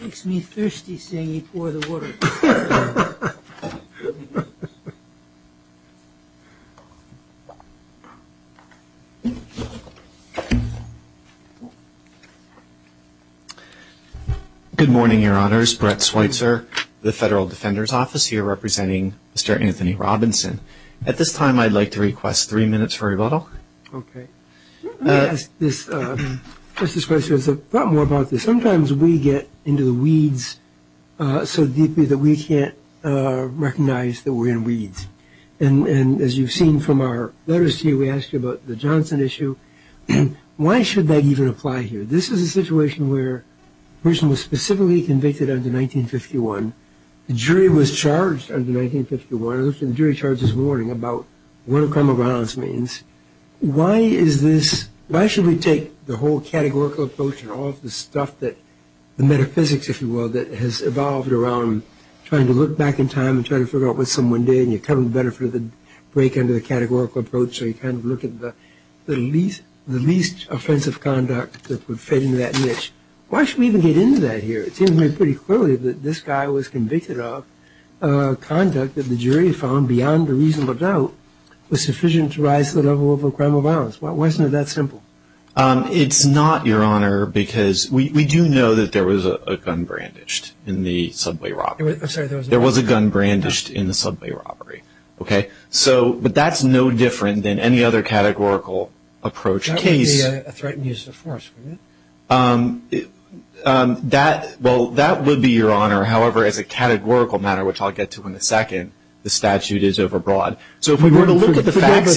Makes me thirsty seeing you pour the water. Good morning, your honors, Brett Schweitzer, the Federal Defender's Office here representing Mr. Anthony Robinson. At this time, I'd like to request three minutes for rebuttal. Let me ask this, Mr. Schweitzer, a thought more about this. Sometimes we get into the weeds so deeply that we can't recognize that we're in weeds. And as you've seen from our letters to you, we ask you about the Johnson issue. Why should that even apply here? This is a situation where a person was specifically convicted under 1951. The jury was charged under 1951. The jury charged this morning about what a crime of violence means. Why should we take the whole categorical approach and all of the stuff, the metaphysics, if you will, that has evolved around trying to look back in time and trying to figure out what someone did and you cover the benefit of the break under the categorical approach so you kind of look at the least offensive conduct that would fit into that niche. Why should we even get into that here? It seems to me pretty clearly that this guy was convicted of conduct that the jury found beyond a reasonable doubt was sufficient to rise the level of a crime of violence. Why isn't it that simple? It's not, Your Honor, because we do know that there was a gun brandished in the subway robbery. I'm sorry. There was a gun brandished in the subway robbery. Okay. But that's no different than any other categorical approach case. That would be a threat and use of force, wouldn't it? Well, that would be, Your Honor. However, as a categorical matter, which I'll get to in a second, the statute is overbroad. So if we were to look at the facts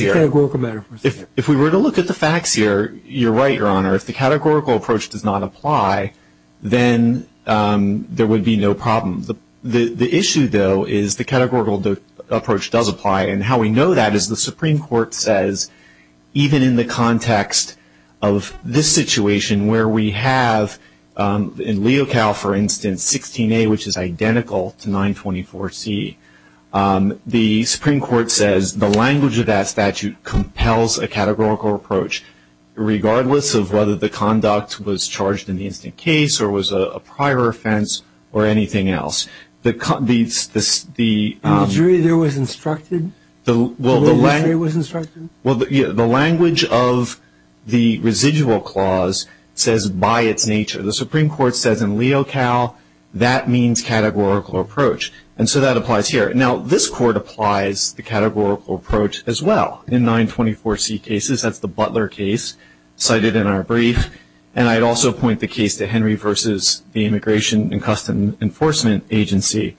here, you're right, Your Honor. If the categorical approach does not apply, then there would be no problem. The issue, though, is the categorical approach does apply, and how we know that is the Supreme Court says even in the context of this situation where we have in Leocal, for instance, 16A, which is identical to 924C, the Supreme Court says the language of that statute compels a categorical approach, regardless of whether the conduct was charged in the incident case or was a prior offense or anything else. In the jury there was instructed? In the jury there was instructed? Well, the language of the residual clause says by its nature. The Supreme Court says in Leocal that means categorical approach. And so that applies here. Now, this Court applies the categorical approach as well. In 924C cases, that's the Butler case cited in our brief, and I'd also point the case to Henry v. the Immigration and Custom Enforcement Agency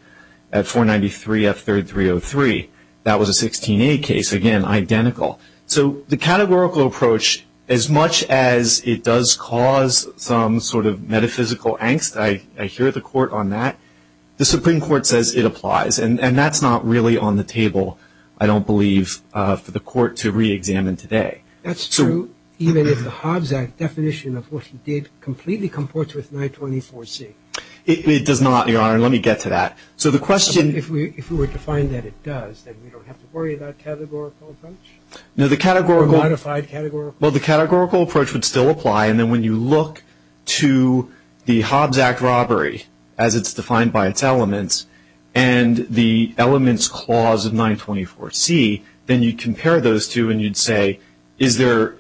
at 493F3303. That was a 16A case, again, identical. So the categorical approach, as much as it does cause some sort of metaphysical angst, I hear the Court on that, the Supreme Court says it applies. And that's not really on the table, I don't believe, for the Court to reexamine today. That's true, even if the Hobbs Act definition of what he did completely comports with 924C. It does not, Your Honor. Let me get to that. So the question — If we were to find that it does, then we don't have to worry about categorical approach? No, the categorical — Or modified categorical approach? Well, the categorical approach would still apply. And then when you look to the Hobbs Act robbery, as it's defined by its elements, and the elements clause of 924C, then you compare those two and you'd say, is there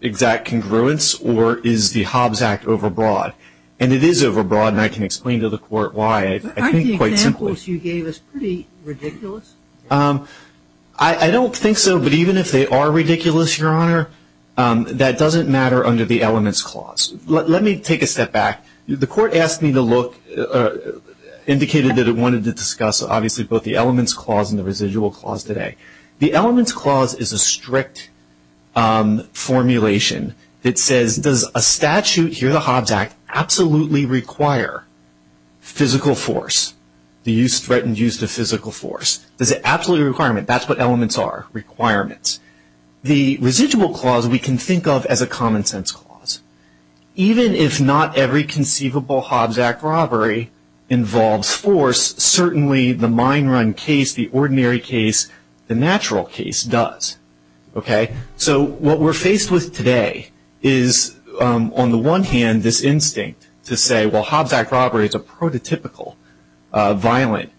exact congruence or is the Hobbs Act overbroad? And it is overbroad, and I can explain to the Court why, I think, quite simply. Aren't the examples you gave us pretty ridiculous? I don't think so, but even if they are ridiculous, Your Honor, that doesn't matter under the elements clause. Let me take a step back. The Court asked me to look — indicated that it wanted to discuss, obviously, both the elements clause and the residual clause today. The elements clause is a strict formulation that says, does a statute here in the Hobbs Act absolutely require physical force, the threatened use of physical force? Is it absolutely a requirement? That's what elements are, requirements. The residual clause we can think of as a common sense clause. Even if not every conceivable Hobbs Act robbery involves force, certainly the mine run case, the ordinary case, the natural case does. Okay? So what we're faced with today is, on the one hand, this instinct to say, well, Hobbs Act robbery is a prototypical violent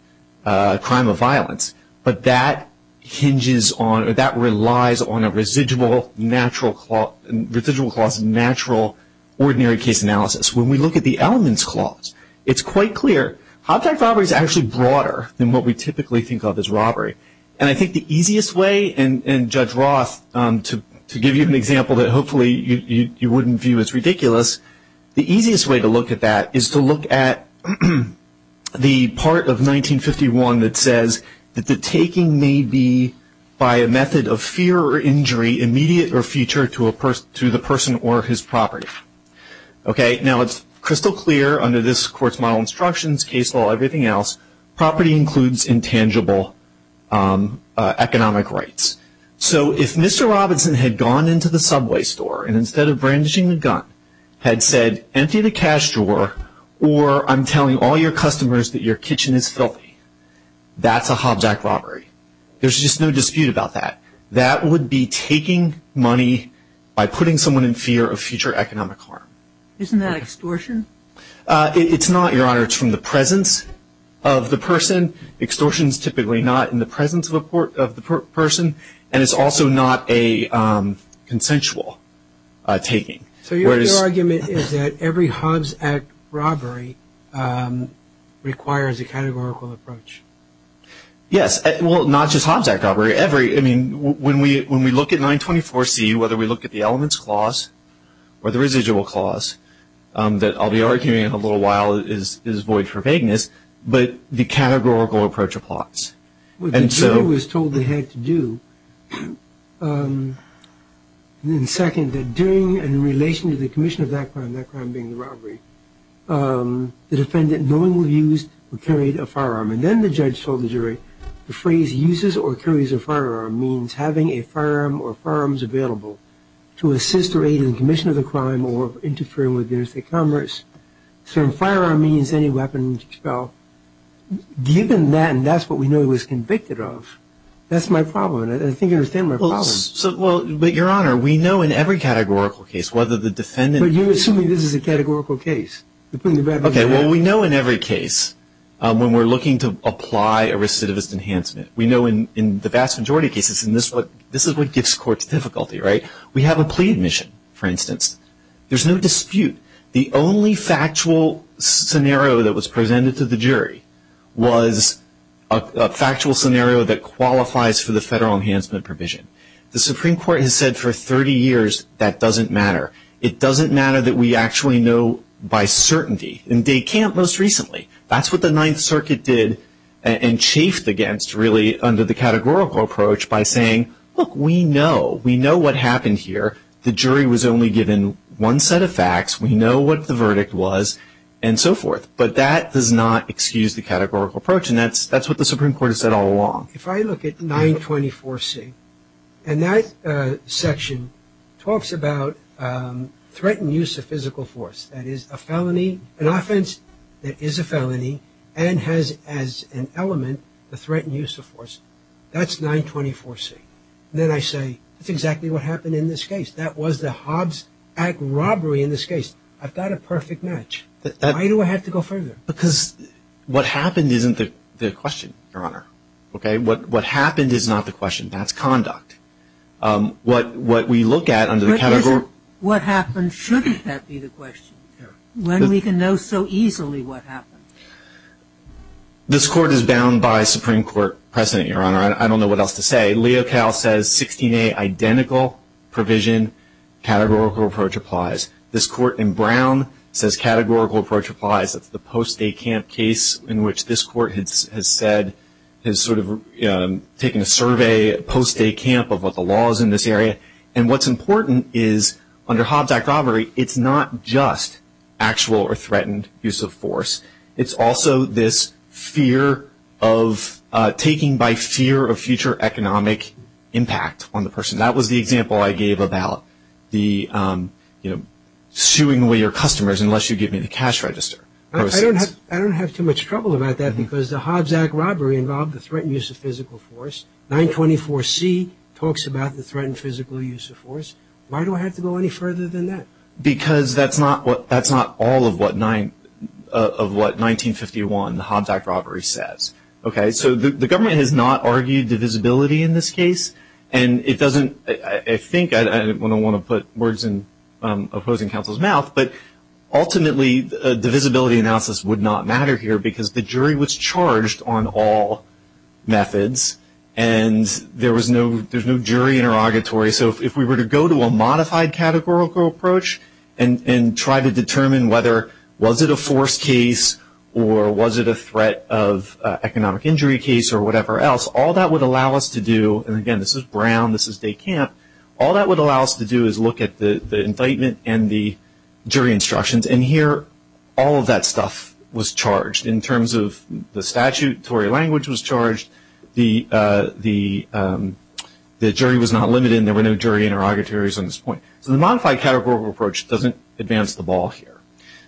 crime of violence, but that hinges on — or that relies on a residual, natural — residual clause, natural, ordinary case analysis. When we look at the elements clause, it's quite clear. Hobbs Act robbery is actually broader than what we typically think of as robbery. And I think the easiest way — and Judge Roth, to give you an example that, hopefully, you wouldn't view as ridiculous, the easiest way to look at that is to look at the part of 1951 that says that the taking may be, by a method of fear or injury, immediate or future to the person or his property. Okay? Now, it's crystal clear under this court's model instructions, case law, everything else, property includes intangible economic rights. So if Mr. Robinson had gone into the Subway store, and instead of brandishing the gun, had said, empty the cash drawer, or I'm telling all your customers that your kitchen is filthy, that's a Hobbs Act robbery. There's just no dispute about that. That would be taking money by putting someone in fear of future economic harm. Isn't that extortion? It's not, Your Honor. It's from the presence of the person. Extortion is typically not in the presence of the person, and it's also not a consensual taking. So your argument is that every Hobbs Act robbery requires a categorical approach. Yes. Well, not just Hobbs Act robbery. I mean, when we look at 924C, whether we look at the elements clause or the residual clause that I'll be arguing in a little while is void for vagueness, but the categorical approach applies. What the jury was told they had to do, and second, that during and in relation to the commission of that crime, that crime being the robbery, the defendant knowingly used or carried a firearm, and then the judge told the jury the phrase uses or carries a firearm means having a firearm or firearms available to assist or aid in the commission of the crime or interfere with interstate commerce. So a firearm means any weapon to expel. Given that, and that's what we know he was convicted of, that's my problem, and I think you understand my problem. Well, but, Your Honor, we know in every categorical case whether the defendant But you're assuming this is a categorical case. Okay, well, we know in every case when we're looking to apply a recidivist enhancement. We know in the vast majority of cases this is what gives courts difficulty, right? We have a plea admission, for instance. There's no dispute. The only factual scenario that was presented to the jury was a factual scenario that qualifies for the federal enhancement provision. The Supreme Court has said for 30 years that doesn't matter. It doesn't matter that we actually know by certainty, and they can't most recently. That's what the Ninth Circuit did and chafed against really under the categorical approach by saying, Look, we know. We know what happened here. The jury was only given one set of facts. We know what the verdict was and so forth, but that does not excuse the categorical approach, and that's what the Supreme Court has said all along. If I look at 924C, and that section talks about threatened use of physical force, that is a felony, an offense that is a felony and has as an element the threatened use of force, that's 924C. Then I say that's exactly what happened in this case. That was the Hobbs Act robbery in this case. I've got a perfect match. Why do I have to go further? Because what happened isn't the question, Your Honor. Okay? What happened is not the question. That's conduct. What we look at under the category. What happened, shouldn't that be the question? When we can know so easily what happened. This Court is bound by Supreme Court precedent, Your Honor. I don't know what else to say. Leocal says 16A, identical provision, categorical approach applies. This Court in Brown says categorical approach applies. That's the post-day camp case in which this Court has said, has sort of taken a survey post-day camp of what the law is in this area. And what's important is under Hobbs Act robbery, it's not just actual or threatened use of force. It's also this fear of taking by fear of future economic impact on the person. That was the example I gave about the, you know, suing away your customers unless you give me the cash register. I don't have too much trouble about that because the Hobbs Act robbery involved the threatened use of physical force. 924C talks about the threatened physical use of force. Why do I have to go any further than that? Because that's not all of what 1951, the Hobbs Act robbery says. Okay, so the government has not argued divisibility in this case. And it doesn't, I think, I don't want to put words in opposing counsel's mouth, but ultimately divisibility analysis would not matter here because the jury was charged on all methods. And there was no, there's no jury interrogatory. So if we were to go to a modified categorical approach and try to determine whether was it a force case or was it a threat of economic injury case or whatever else, all that would allow us to do, and again this is Brown, this is Day Camp, all that would allow us to do is look at the indictment and the jury instructions. And here all of that stuff was charged in terms of the statute, Tory language was charged, the jury was not limited and there were no jury interrogatories on this point. So the modified categorical approach doesn't advance the ball here.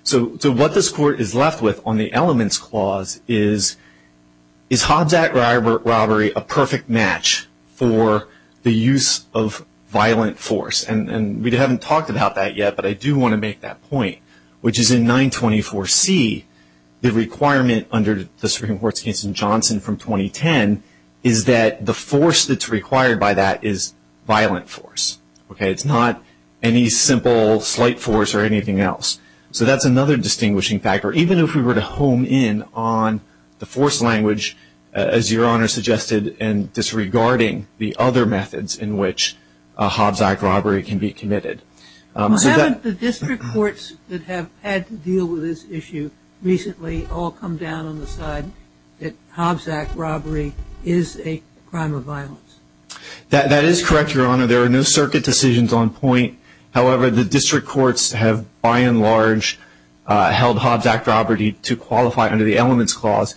So what this court is left with on the elements clause is, is Hobbs Act robbery a perfect match for the use of violent force? And we haven't talked about that yet, but I do want to make that point, which is in 924C the requirement under the Supreme Court's case in Johnson from 2010 is that the force that's required by that is violent force. Okay, it's not any simple slight force or anything else. So that's another distinguishing factor. Even if we were to home in on the force language, as your Honor suggested, and disregarding the other methods in which a Hobbs Act robbery can be committed. Haven't the district courts that have had to deal with this issue recently all come down on the side that Hobbs Act robbery is a crime of violence? That is correct, your Honor. There are no circuit decisions on point. However, the district courts have by and large held Hobbs Act robbery to qualify under the elements clause.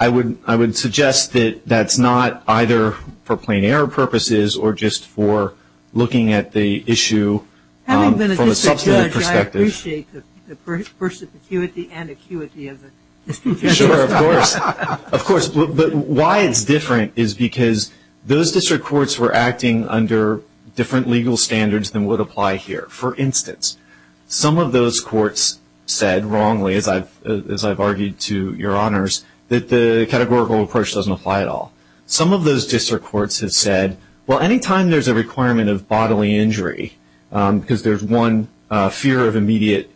I would suggest that that's not either for plain error purposes or just for looking at the issue from a substantive perspective. Having been a district judge, I appreciate the perspicuity and acuity of the district courts. Sure, of course. Of course. But why it's different is because those district courts were acting under different legal standards than would apply here. For instance, some of those courts said wrongly, as I've argued to your Honors, that the categorical approach doesn't apply at all. Some of those district courts have said, well, anytime there's a requirement of bodily injury, because there's one fear of immediate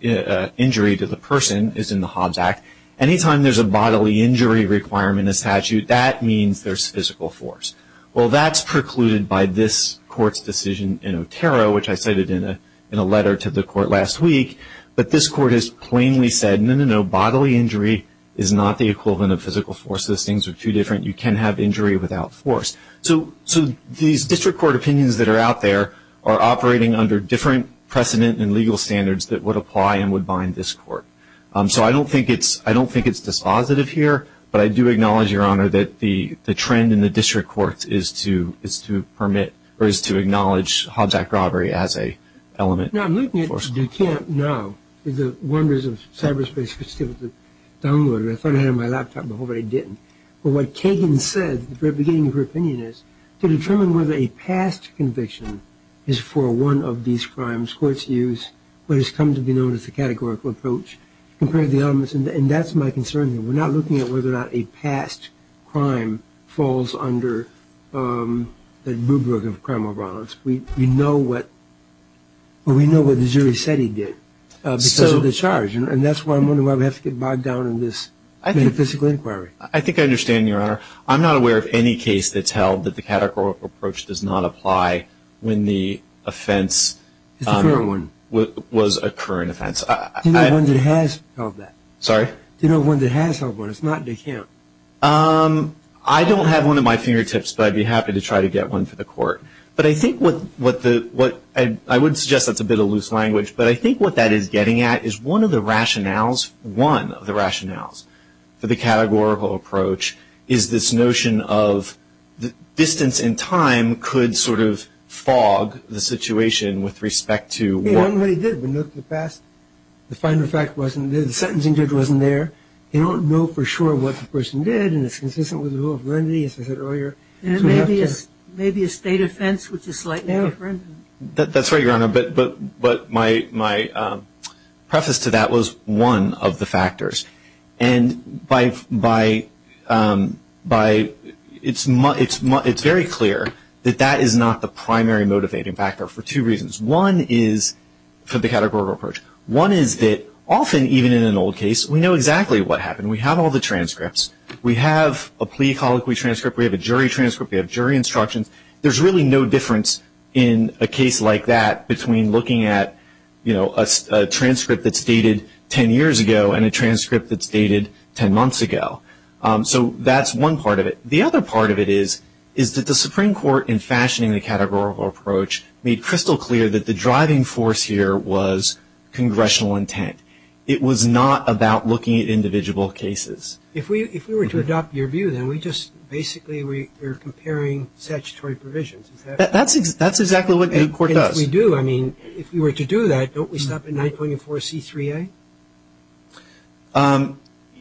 injury to the person is in the Hobbs Act, anytime there's a bodily injury requirement in a statute, that means there's physical force. Well, that's precluded by this court's decision in Otero, which I cited in a letter to the court last week. But this court has plainly said, no, no, no, bodily injury is not the equivalent of physical force. Those things are too different. You can have injury without force. So these district court opinions that are out there are operating under different precedent and legal standards that would apply and would bind this court. So I don't think it's dispositive here, but I do acknowledge, your Honor, that the trend in the district courts is to permit or is to acknowledge Hobbs Act robbery as an element of force. Now, I'm looking at Dukamp now, the Wonders of Cyberspace, which is still downloaded. I thought I had it on my laptop, but hopefully I didn't. But what Kagan said at the beginning of her opinion is, to determine whether a past conviction is for one of these crimes, courts use what has come to be known as the categorical approach to compare the elements. And that's my concern here. We're not looking at whether or not a past crime falls under the rubric of criminal violence. We know what the jury said he did because of the charge. And that's why I'm wondering why we have to get bogged down in this metaphysical inquiry. I think I understand, your Honor. I'm not aware of any case that's held that the categorical approach does not apply when the offense was a current offense. Do you know of one that has held that? Sorry? Do you know of one that has held one? It's not Dukamp. I don't have one at my fingertips, but I'd be happy to try to get one for the court. But I think what the ‑‑ I would suggest that's a bit of loose language, but I think what that is getting at is one of the rationales, one of the rationales for the categorical approach is this notion of distance The final fact wasn't there. The sentencing judge wasn't there. You don't know for sure what the person did, and it's consistent with the rule of remedy, as I said earlier. Maybe a state offense, which is slightly different. That's right, your Honor. But my preface to that was one of the factors. And by ‑‑ it's very clear that that is not the primary motivating factor for two reasons. One is for the categorical approach. One is that often, even in an old case, we know exactly what happened. We have all the transcripts. We have a plea colloquy transcript. We have a jury transcript. We have jury instructions. There's really no difference in a case like that between looking at, you know, a transcript that's dated ten years ago and a transcript that's dated ten months ago. So that's one part of it. The other part of it is that the Supreme Court, in fashioning the categorical approach, made crystal clear that the driving force here was congressional intent. It was not about looking at individual cases. If we were to adopt your view, then we just basically we're comparing statutory provisions. That's exactly what the court does. And if we do, I mean, if we were to do that, don't we stop at 9.4C3A?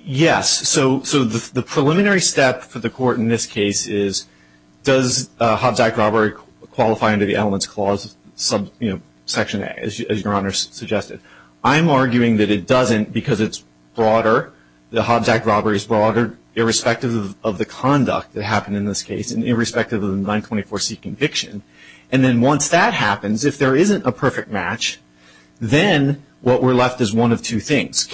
Yes. So the preliminary step for the court in this case is, does Hobbs Act robbery qualify under the Elements Clause section, as Your Honor suggested? I'm arguing that it doesn't because it's broader. The Hobbs Act robbery is broader irrespective of the conduct that happened in this case and irrespective of the 924C conviction. And then once that happens, if there isn't a perfect match, then what we're left is one of two things.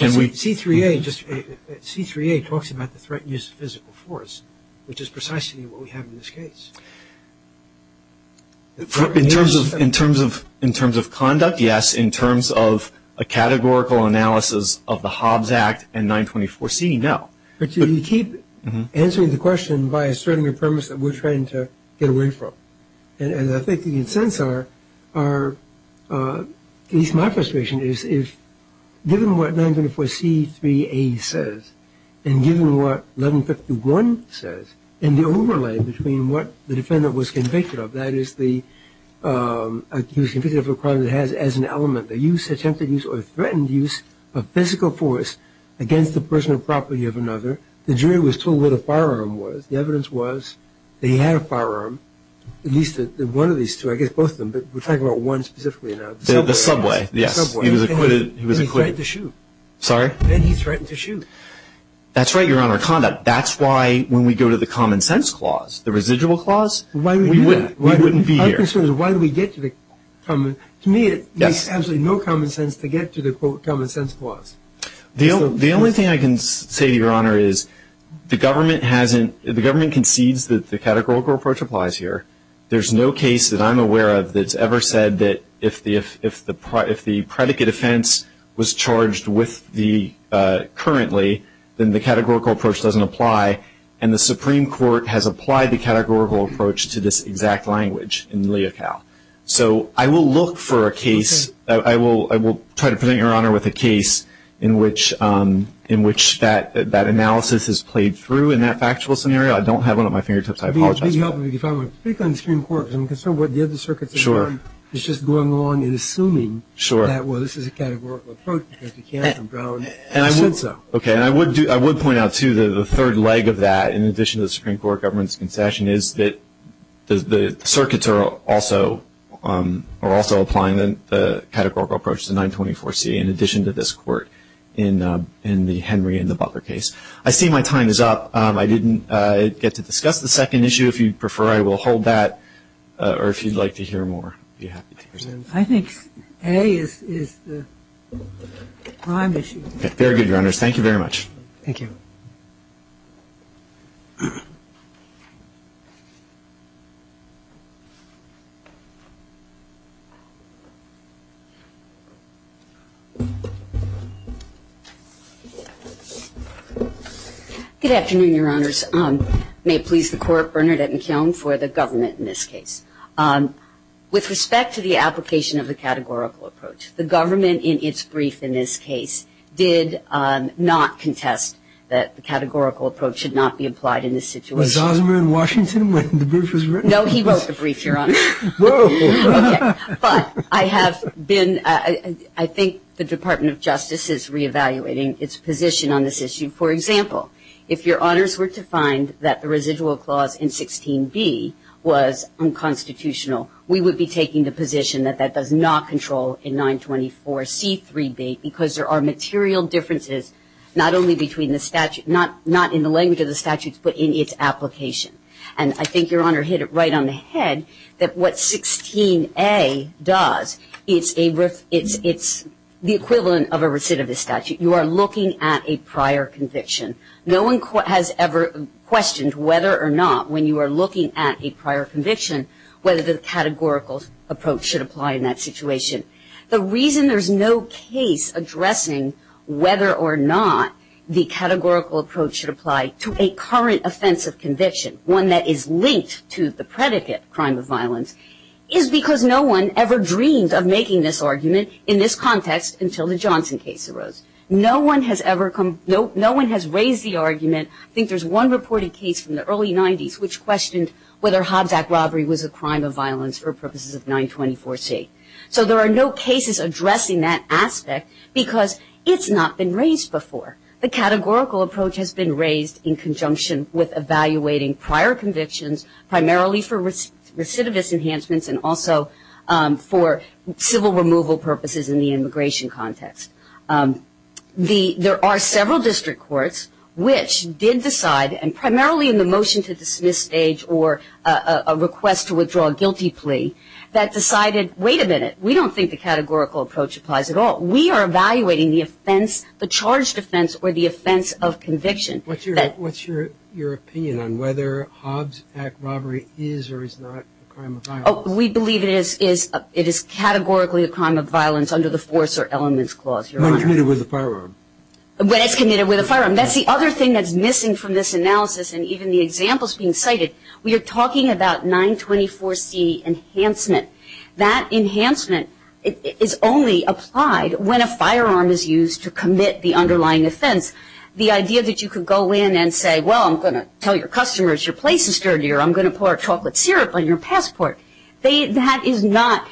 C3A talks about the threat and use of physical force, which is precisely what we have in this case. In terms of conduct, yes. In terms of a categorical analysis of the Hobbs Act and 924C, no. But you keep answering the question by asserting a premise that we're trying to get away from. And I think the incents are, at least my frustration is, if given what 924C3A says and given what 1151 says and the overlay between what the defendant was convicted of, that is he was convicted of a crime that has as an element attempted use or threatened use of physical force against the personal property of another. The jury was told where the firearm was. The evidence was that he had a firearm, at least one of these two, I guess both of them. But we're talking about one specifically now. The subway. The subway, yes. He was acquitted. Then he threatened to shoot. Sorry? Then he threatened to shoot. That's right, Your Honor, conduct. That's why when we go to the common sense clause, the residual clause, we wouldn't be here. To me, it makes absolutely no common sense to get to the common sense clause. The only thing I can say to Your Honor is the government concedes that the categorical approach applies here. There's no case that I'm aware of that's ever said that if the predicate offense was charged with the currently, then the categorical approach doesn't apply. And the Supreme Court has applied the categorical approach to this exact language in Leocal. So I will look for a case. I will try to present Your Honor with a case in which that analysis is played through in that factual scenario. I don't have one at my fingertips. I apologize for that. If I were to speak on the Supreme Court, because I'm concerned what the other circuits have done, is just going along and assuming that, well, this is a categorical approach because you can't have them drown. I should so. Okay. And I would point out, too, that the third leg of that, in addition to the Supreme Court government's concession, is that the circuits are also applying the categorical approach to 924C, in addition to this court in the Henry and the Butler case. I see my time is up. I didn't get to discuss the second issue. If you prefer, I will hold that. Or if you'd like to hear more, I'd be happy to hear that. I think A is the prime issue. Very good, Your Honors. Thank you very much. Thank you. Good afternoon, Your Honors. May it please the Court, Bernadette McKeown for the government in this case. With respect to the application of the categorical approach, the government, in its brief in this case, did not contest that the categorical approach should not be applied in this situation. Was Osmer in Washington when the brief was written? No, he wrote the brief, Your Honors. Whoa. Okay. But I have been, I think the Department of Justice is reevaluating its position on this issue. For example, if Your Honors were to find that the residual clause in 16B was unconstitutional, we would be taking the position that that does not control in 924C3B because there are material differences not only between the statute, not in the language of the statutes, but in its application. And I think Your Honor hit it right on the head that what 16A does, it's the equivalent of a recidivist statute. You are looking at a prior conviction. No one has ever questioned whether or not, when you are looking at a prior conviction, whether the categorical approach should apply in that situation. The reason there is no case addressing whether or not the categorical approach should apply to a current offensive conviction, one that is linked to the predicate, crime of violence, is because no one ever dreamed of making this argument in this context until the Johnson case arose. No one has ever come, no one has raised the argument, I think there is one reported case from the early 90s which questioned whether Hobbs Act robbery was a crime of violence for purposes of 924C. So there are no cases addressing that aspect because it's not been raised before. The categorical approach has been raised in conjunction with evaluating prior convictions, primarily for recidivist enhancements and also for civil removal purposes in the immigration context. There are several district courts which did decide, and primarily in the motion to dismiss stage or a request to withdraw a guilty plea, that decided, wait a minute, we don't think the categorical approach applies at all. We are evaluating the offense, the charged offense, or the offense of conviction. What's your opinion on whether Hobbs Act robbery is or is not a crime of violence? We believe it is categorically a crime of violence under the force or elements clause, Your Honor. When it's committed with a firearm. When it's committed with a firearm. That's the other thing that's missing from this analysis and even the examples being cited. We are talking about 924C enhancement. That enhancement is only applied when a firearm is used to commit the underlying offense. The idea that you could go in and say, well, I'm going to tell your customers your place is sturdier. I'm going to pour chocolate syrup on your passport. That is not,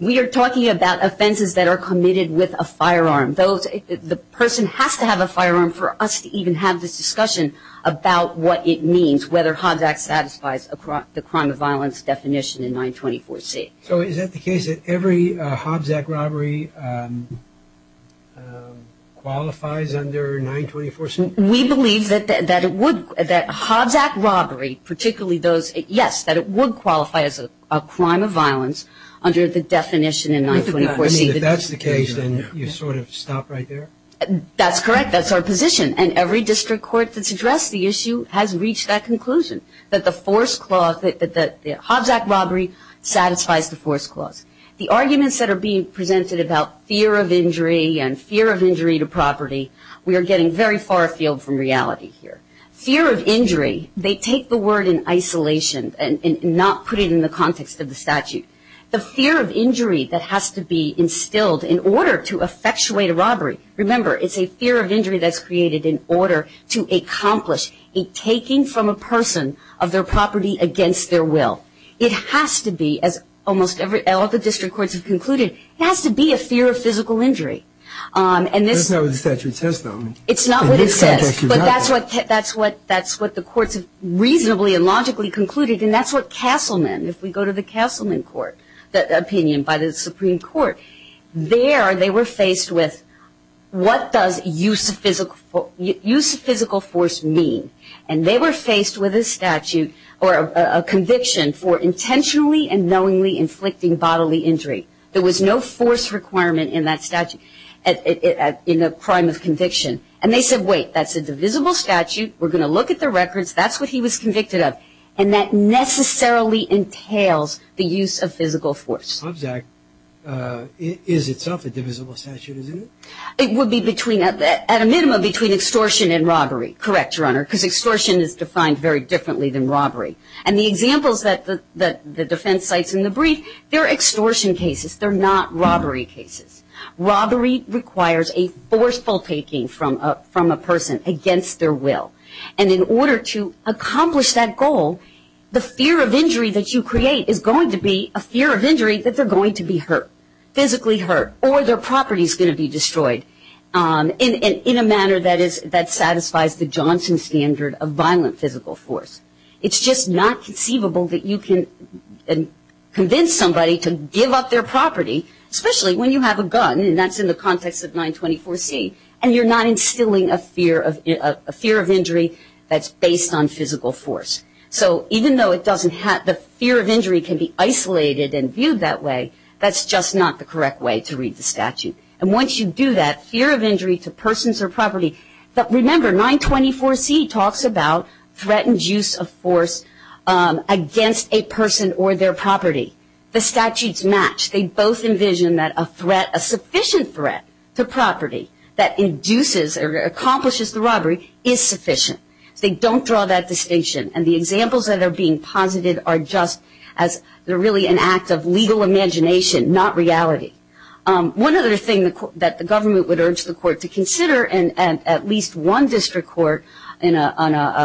we are talking about offenses that are committed with a firearm. The person has to have a firearm for us to even have this discussion about what it means, whether Hobbs Act satisfies the crime of violence definition in 924C. So is that the case that every Hobbs Act robbery qualifies under 924C? We believe that Hobbs Act robbery, particularly those, yes, that it would qualify as a crime of violence under the definition in 924C. If that's the case, then you sort of stop right there? That's correct. That's our position. And every district court that's addressed the issue has reached that conclusion, that the force clause, that the Hobbs Act robbery satisfies the force clause. The arguments that are being presented about fear of injury and fear of injury to property, we are getting very far afield from reality here. Fear of injury, they take the word in isolation and not put it in the context of the statute. The fear of injury that has to be instilled in order to effectuate a robbery, remember, it's a fear of injury that's created in order to accomplish a taking from a person of their property against their will. It has to be, as almost all the district courts have concluded, it has to be a fear of physical injury. That's not what the statute says, though. It's not what it says, but that's what the courts have reasonably and logically concluded, and that's what Castleman, if we go to the Castleman opinion by the Supreme Court, there they were faced with what does use of physical force mean? And they were faced with a statute or a conviction for intentionally and knowingly inflicting bodily injury. There was no force requirement in that statute, in the crime of conviction. And they said, wait, that's a divisible statute. We're going to look at the records. That's what he was convicted of. And that necessarily entails the use of physical force. Object is itself a divisible statute, isn't it? It would be at a minimum between extortion and robbery. Correct, Your Honor, because extortion is defined very differently than robbery. And the examples that the defense cites in the brief, they're extortion cases. They're not robbery cases. Robbery requires a forceful taking from a person against their will. And in order to accomplish that goal, the fear of injury that you create is going to be a fear of injury that they're going to be hurt, physically hurt, or their property is going to be destroyed in a manner that satisfies the Johnson standard of violent physical force. It's just not conceivable that you can convince somebody to give up their property, especially when you have a gun, and that's in the context of 924C, and you're not instilling a fear of injury that's based on physical force. So even though the fear of injury can be isolated and viewed that way, that's just not the correct way to read the statute. And once you do that, fear of injury to persons or property, but remember 924C talks about threatened use of force against a person or their property. The statutes match. They both envision that a threat, a sufficient threat to property that induces or accomplishes the robbery is sufficient. They don't draw that distinction. And the examples that are being posited are just as really an act of legal imagination, not reality. One other thing that the government would urge the court to consider, and at least one district court on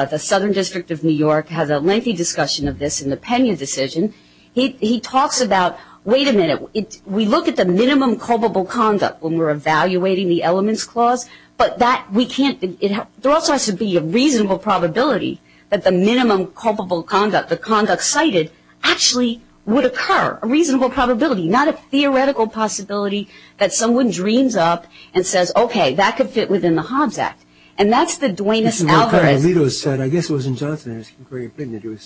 the Southern District of New York has a lengthy discussion of this in the Pena decision. He talks about, wait a minute, we look at the minimum culpable conduct when we're evaluating the elements clause, but that we can't, there also has to be a reasonable probability that the minimum culpable conduct, the conduct cited, actually would occur, a reasonable probability, not a theoretical possibility that someone dreams up and says, okay, that could fit within the Hobbes Act. And that's the Duenas algorithm. As Lito said, I guess it was in Johnson and Erskine,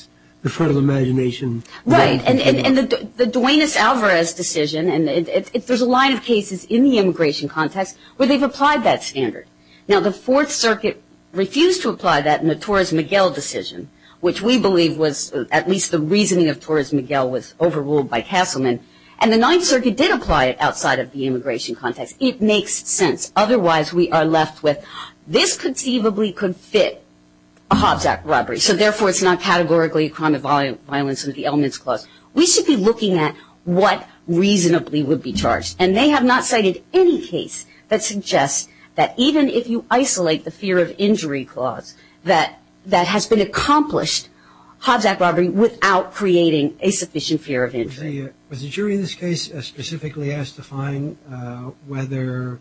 the threat of imagination. Right, and the Duenas-Alvarez decision, and there's a line of cases in the immigration context where they've applied that standard. Now, the Fourth Circuit refused to apply that in the Torres-Miguel decision, which we believe was at least the reasoning of Torres-Miguel was overruled by Castleman. And the Ninth Circuit did apply it outside of the immigration context. It makes sense. Otherwise, we are left with, this conceivably could fit a Hobbes Act robbery, so therefore it's not categorically a crime of violence under the elements clause. We should be looking at what reasonably would be charged. And they have not cited any case that suggests that even if you isolate the fear of injury clause, that that has been accomplished, Hobbes Act robbery, without creating a sufficient fear of injury. Was the jury in this case specifically asked to find whether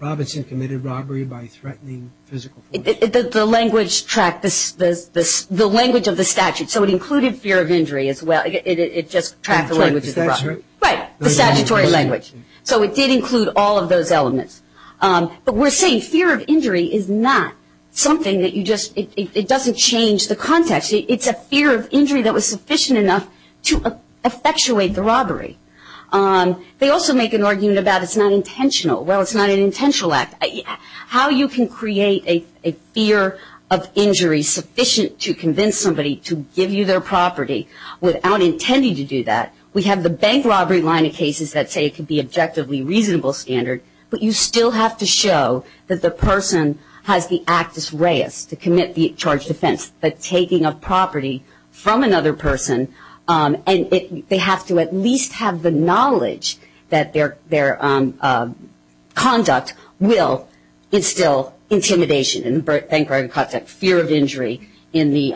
Robinson committed robbery by threatening physical force? The language track, the language of the statute, so it included fear of injury as well. It just tracked the language of the robbery. That's right. Right, the statutory language. So it did include all of those elements. But we're saying fear of injury is not something that you just, it doesn't change the context. It's a fear of injury that was sufficient enough to effectuate the robbery. They also make an argument about it's not intentional. Well, it's not an intentional act. How you can create a fear of injury sufficient to convince somebody to give you their property without intending to do that, we have the bank robbery line of cases that say it could be objectively reasonable standard, but you still have to show that the person has the actus reus to commit the charged offense, the taking of property from another person, and they have to at least have the knowledge that their conduct will instill intimidation in the bank robbery context, fear of injury in the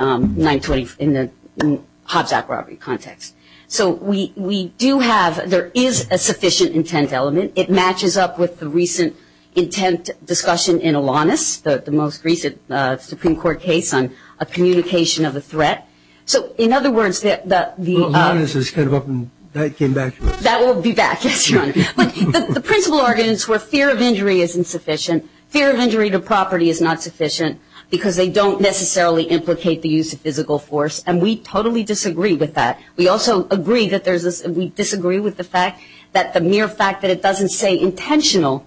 Hobbes Act robbery context. So we do have, there is a sufficient intent element. It matches up with the recent intent discussion in Alanis, the most recent Supreme Court case on a communication of a threat. So, in other words, the- Alanis is kind of up and that came back. That will be back, yes, Your Honor. But the principle argument is where fear of injury is insufficient, fear of injury to property is not sufficient, because they don't necessarily implicate the use of physical force, and we totally disagree with that. We also agree that there's this, we disagree with the fact that the mere fact that it doesn't say intentional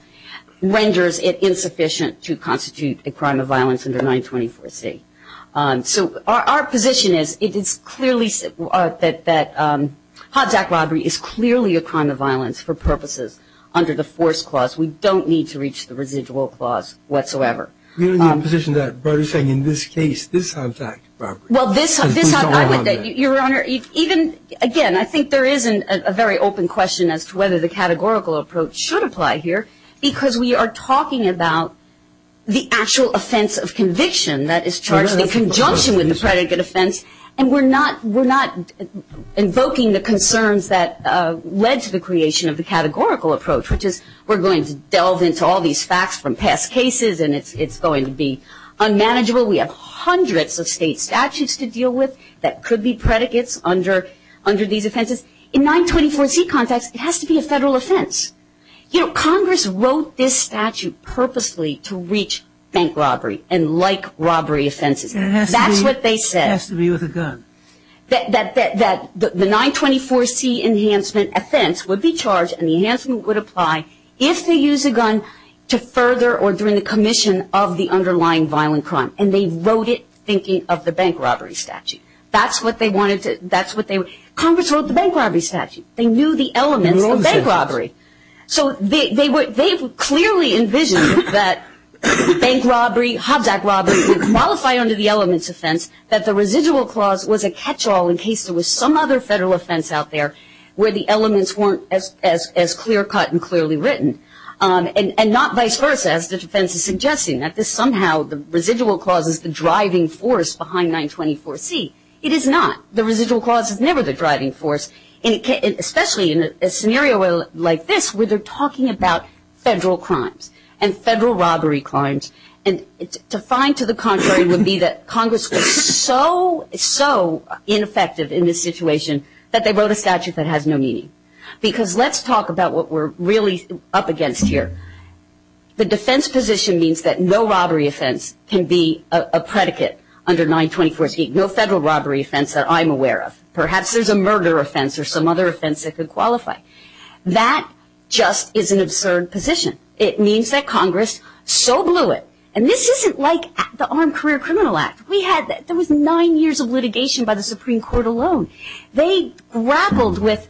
renders it insufficient to constitute a crime of violence under 924C. So our position is it is clearly that Hobbes Act robbery is clearly a crime of violence for purposes under the force clause. We don't need to reach the residual clause whatsoever. We are in the position that, in this case, this is a fact robbery. Well, this, I would, Your Honor, even, again, I think there isn't a very open question as to whether the categorical approach should apply here, because we are talking about the actual offense of conviction that is charged in conjunction with the predicate offense, and we're not invoking the concerns that led to the creation of the categorical approach, which is we're going to delve into all these facts from past cases, and it's going to be unmanageable. We have hundreds of state statutes to deal with that could be predicates under these offenses. In 924C context, it has to be a federal offense. You know, Congress wrote this statute purposely to reach bank robbery and like robbery offenses. That's what they said. It has to be with a gun. That the 924C enhancement offense would be charged and the enhancement would apply if they use a gun to further or during the commission of the underlying violent crime, and they wrote it thinking of the bank robbery statute. That's what they wanted to, that's what they, Congress wrote the bank robbery statute. They knew the elements of bank robbery. So they were, they clearly envisioned that bank robbery, Hobbs Act robbery would qualify under the elements offense, that the residual clause was a catch-all in case there was some other federal offense out there where the elements weren't as clear-cut and clearly written, and not vice versa as the defense is suggesting, that this somehow, the residual clause is the driving force behind 924C. It is not. The residual clause is never the driving force, especially in a scenario like this where they're talking about federal crimes and federal robbery crimes, and to find to the contrary would be that Congress was so, so ineffective in this situation that they wrote a statute that has no meaning. Because let's talk about what we're really up against here. The defense position means that no robbery offense can be a predicate under 924C, no federal robbery offense that I'm aware of. Perhaps there's a murder offense or some other offense that could qualify. That just is an absurd position. It means that Congress so blew it, and this isn't like the Armed Career Criminal Act. We had, there was nine years of litigation by the Supreme Court alone. They grappled with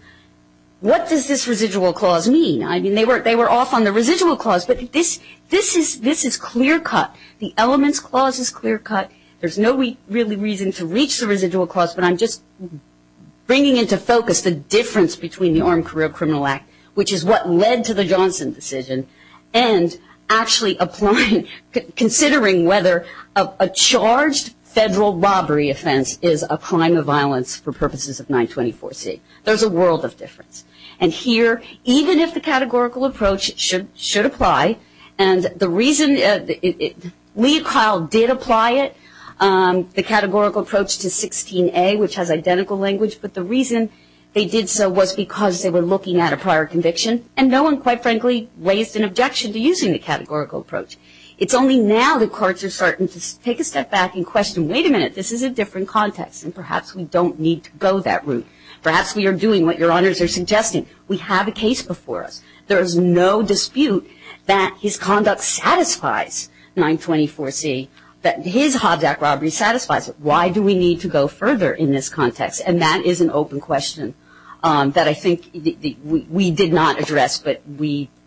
what does this residual clause mean? I mean, they were off on the residual clause, but this is clear-cut. The elements clause is clear-cut. There's no reason to reach the residual clause, but I'm just bringing into focus the difference between the Armed Career Criminal Act, which is what led to the Johnson decision, and actually applying, considering whether a charged federal robbery offense is a crime of violence for purposes of 924C. There's a world of difference. And here, even if the categorical approach should apply, and the reason, Lee and Kyle did apply it, the categorical approach to 16A, which has identical language, but the reason they did so was because they were looking at a prior conviction, and no one, quite frankly, raised an objection to using the categorical approach. It's only now that courts are starting to take a step back and question, wait a minute, this is a different context, and perhaps we don't need to go that route. Perhaps we are doing what Your Honors are suggesting. We have a case before us. There is no dispute that his conduct satisfies 924C, that his Hobjack robbery satisfies it. Why do we need to go further in this context? And that is an open question that I think we did not address, but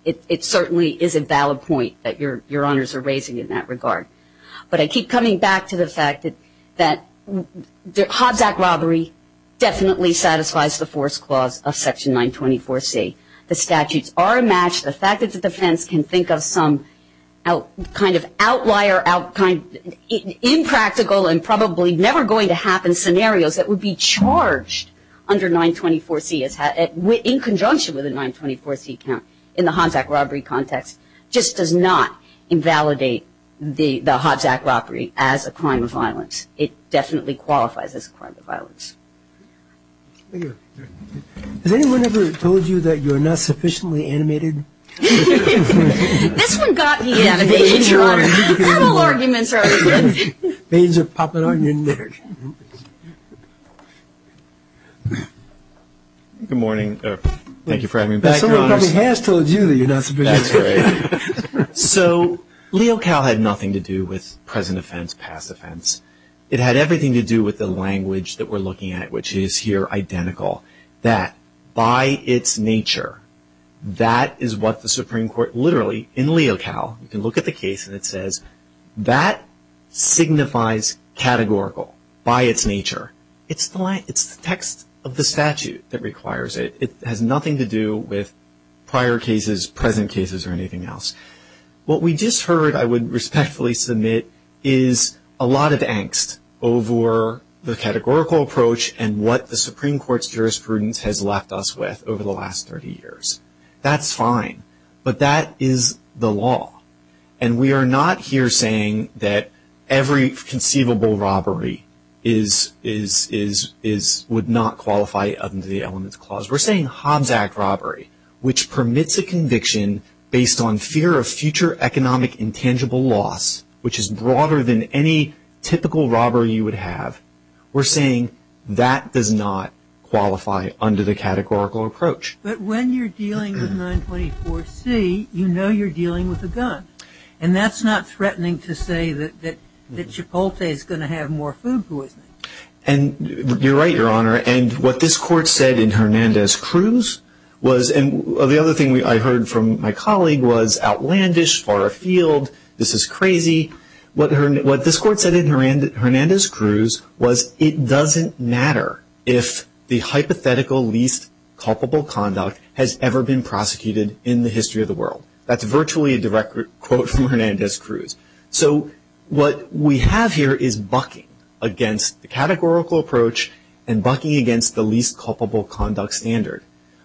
it certainly is a valid point that Your Honors are raising in that regard. But I keep coming back to the fact that Hobjack robbery definitely satisfies the force clause of Section 924C. The statutes are a match. The fact that the defense can think of some kind of outlier, impractical and probably never going to happen scenarios that would be charged under 924C, in conjunction with a 924C count in the Hobjack robbery context, just does not invalidate the Hobjack robbery as a crime of violence. Thank you. Has anyone ever told you that you are not sufficiently animated? This one got me animated, Your Honors. Total arguments are always good. Veins are popping on your neck. Good morning. Thank you for having me back, Your Honors. Somebody probably has told you that you are not sufficiently animated. That's right. So Leo Cal had nothing to do with present offense, past offense. It had everything to do with the language that we're looking at, which is here identical. That by its nature, that is what the Supreme Court literally, in Leo Cal, you can look at the case and it says that signifies categorical by its nature. It's the text of the statute that requires it. It has nothing to do with prior cases, present cases or anything else. What we just heard, I would respectfully submit, is a lot of angst over the categorical approach and what the Supreme Court's jurisprudence has left us with over the last 30 years. That's fine, but that is the law. And we are not here saying that every conceivable robbery would not qualify under the Elements Clause. We're saying Hobbs Act robbery, which permits a conviction based on fear of future economic intangible loss, which is broader than any typical robbery you would have, we're saying that does not qualify under the categorical approach. But when you're dealing with 924C, you know you're dealing with a gun. And that's not threatening to say that Chipotle is going to have more food poisoning. You're right, Your Honor. And what this Court said in Hernandez-Cruz was, and the other thing I heard from my colleague was outlandish, far afield, this is crazy. What this Court said in Hernandez-Cruz was it doesn't matter if the hypothetical least culpable conduct has ever been prosecuted in the history of the world. That's virtually a direct quote from Hernandez-Cruz. So what we have here is bucking against the categorical approach and bucking against the least culpable conduct standard.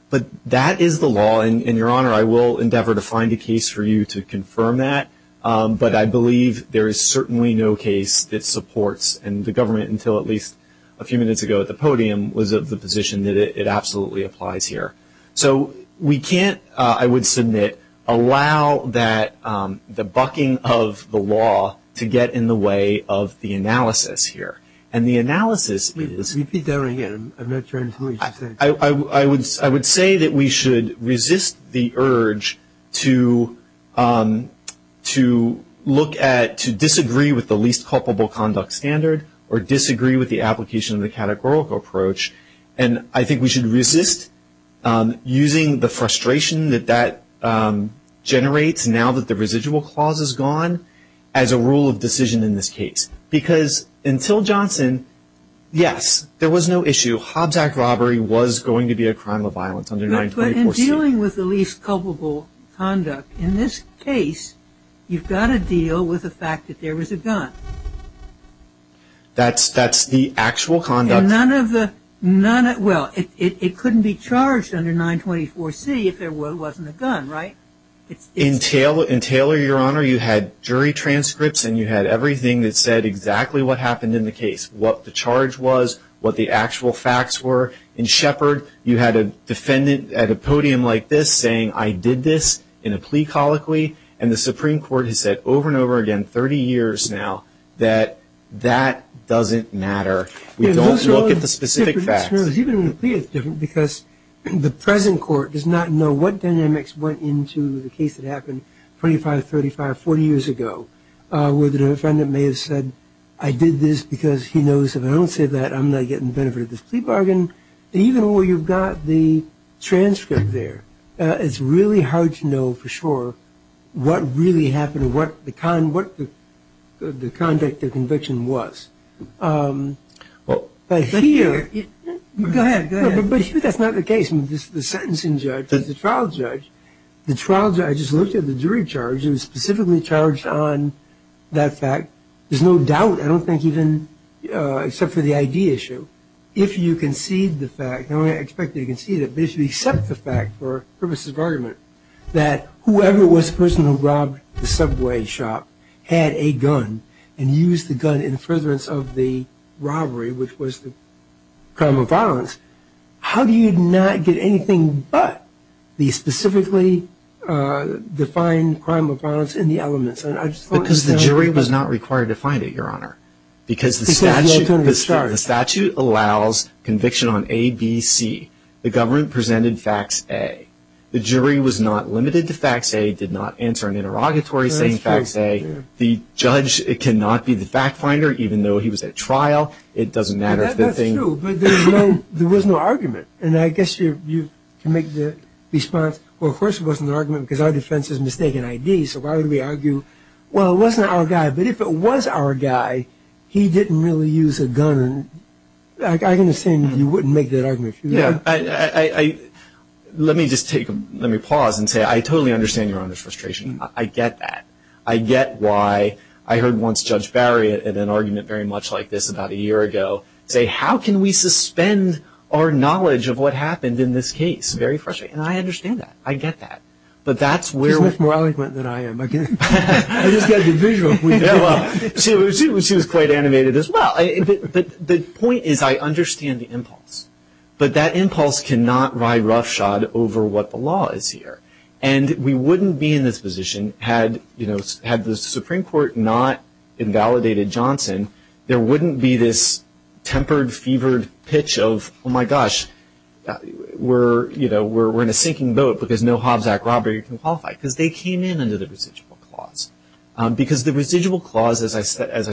But that is the law. And, Your Honor, I will endeavor to find a case for you to confirm that. But I believe there is certainly no case that supports, and the government until at least a few minutes ago at the podium, was of the position that it absolutely applies here. So we can't, I would submit, allow the bucking of the law to get in the way of the analysis here. And the analysis is- Repeat that again. I'm not trying to hear what you're saying. I would say that we should resist the urge to look at, to disagree with the least culpable conduct standard or disagree with the application of the categorical approach. And I think we should resist using the frustration that that generates now that the residual clause is gone as a rule of decision in this case. Because until Johnson, yes, there was no issue. Hobbs Act robbery was going to be a crime of violence under 924C. But in dealing with the least culpable conduct, in this case you've got to deal with the fact that there was a gun. That's the actual conduct. Well, it couldn't be charged under 924C if there wasn't a gun, right? In Taylor, Your Honor, you had jury transcripts and you had everything that said exactly what happened in the case, what the charge was, what the actual facts were. In Shepard, you had a defendant at a podium like this saying, I did this in a plea colloquy. And the Supreme Court has said over and over again, 30 years now, that that doesn't matter. We don't look at the specific facts. Even in a plea it's different because the present court does not know what dynamics went into the case that happened 25, 35, 40 years ago. Where the defendant may have said, I did this because he knows if I don't say that I'm not getting benefited from this plea bargain. Even where you've got the transcript there, it's really hard to know for sure what really happened or what the conduct of conviction was. But here... Go ahead, go ahead. But that's not the case. The sentencing judge, the trial judge, the trial judge looked at the jury charge and was specifically charged on that fact. There's no doubt, I don't think even except for the ID issue, if you concede the fact, I don't expect you to concede it, but if you accept the fact for purposes of argument, that whoever was the person who robbed the subway shop had a gun and used the gun in furtherance of the robbery, which was the crime of violence, how do you not get anything but the specifically defined crime of violence in the elements? Because the jury was not required to find it, Your Honor. Because the statute allows conviction on A, B, C. The government presented facts A. The jury was not limited to facts A, did not answer an interrogatory saying facts A. The judge cannot be the fact finder, even though he was at trial. It doesn't matter if the thing... That's true, but there was no argument, and I guess you can make the response, well, of course it wasn't an argument because our defense is mistaken ID, so why would we argue, well, it wasn't our guy, but if it was our guy, he didn't really use a gun. I understand you wouldn't make that argument. Let me just take a pause and say I totally understand Your Honor's frustration. I get that. I get why I heard once Judge Barriott in an argument very much like this about a year ago say, how can we suspend our knowledge of what happened in this case? Very frustrating. And I understand that. I get that. But that's where... She's much more eloquent than I am. I just got the visual. She was quite animated as well. The point is I understand the impulse, but that impulse cannot ride roughshod over what the law is here, and we wouldn't be in this position had the Supreme Court not invalidated Johnson. There wouldn't be this tempered, fevered pitch of, oh, my gosh, we're in a sinking boat because no Hobbs Act robbery can qualify because they came in under the residual clause because the residual clause, as I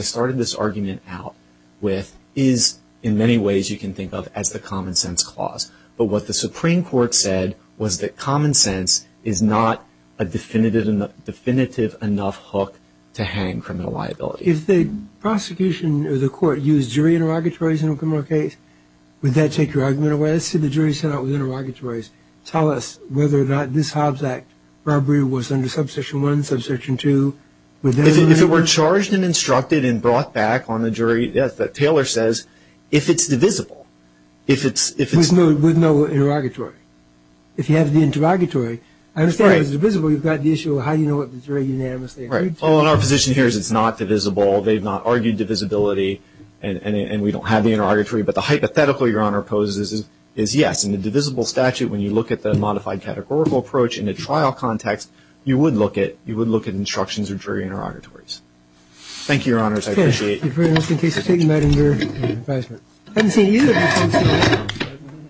started this argument out with, is in many ways you can think of as the common sense clause. But what the Supreme Court said was that common sense is not a definitive enough hook to hang criminal liability. If the prosecution or the court used jury interrogatories in a criminal case, would that take your argument away? Let's say the jury set out with interrogatories. Tell us whether or not this Hobbs Act robbery was under Subsection 1, Subsection 2. If it were charged and instructed and brought back on the jury, yes, but Taylor says if it's divisible, if it's... With no interrogatory. If you have the interrogatory, I understand if it's divisible, you've got the issue of how you know if it's very unanimously agreed to. Right. All in our position here is it's not divisible. They've not argued divisibility, and we don't have the interrogatory. But the hypothetical Your Honor poses is yes. In the divisible statute, when you look at the modified categorical approach in a trial context, you would look at instructions or jury interrogatories. Thank you, Your Honors. I appreciate it. Thank you very much. In case you're taking that in your advisement. I haven't seen you. I haven't seen you.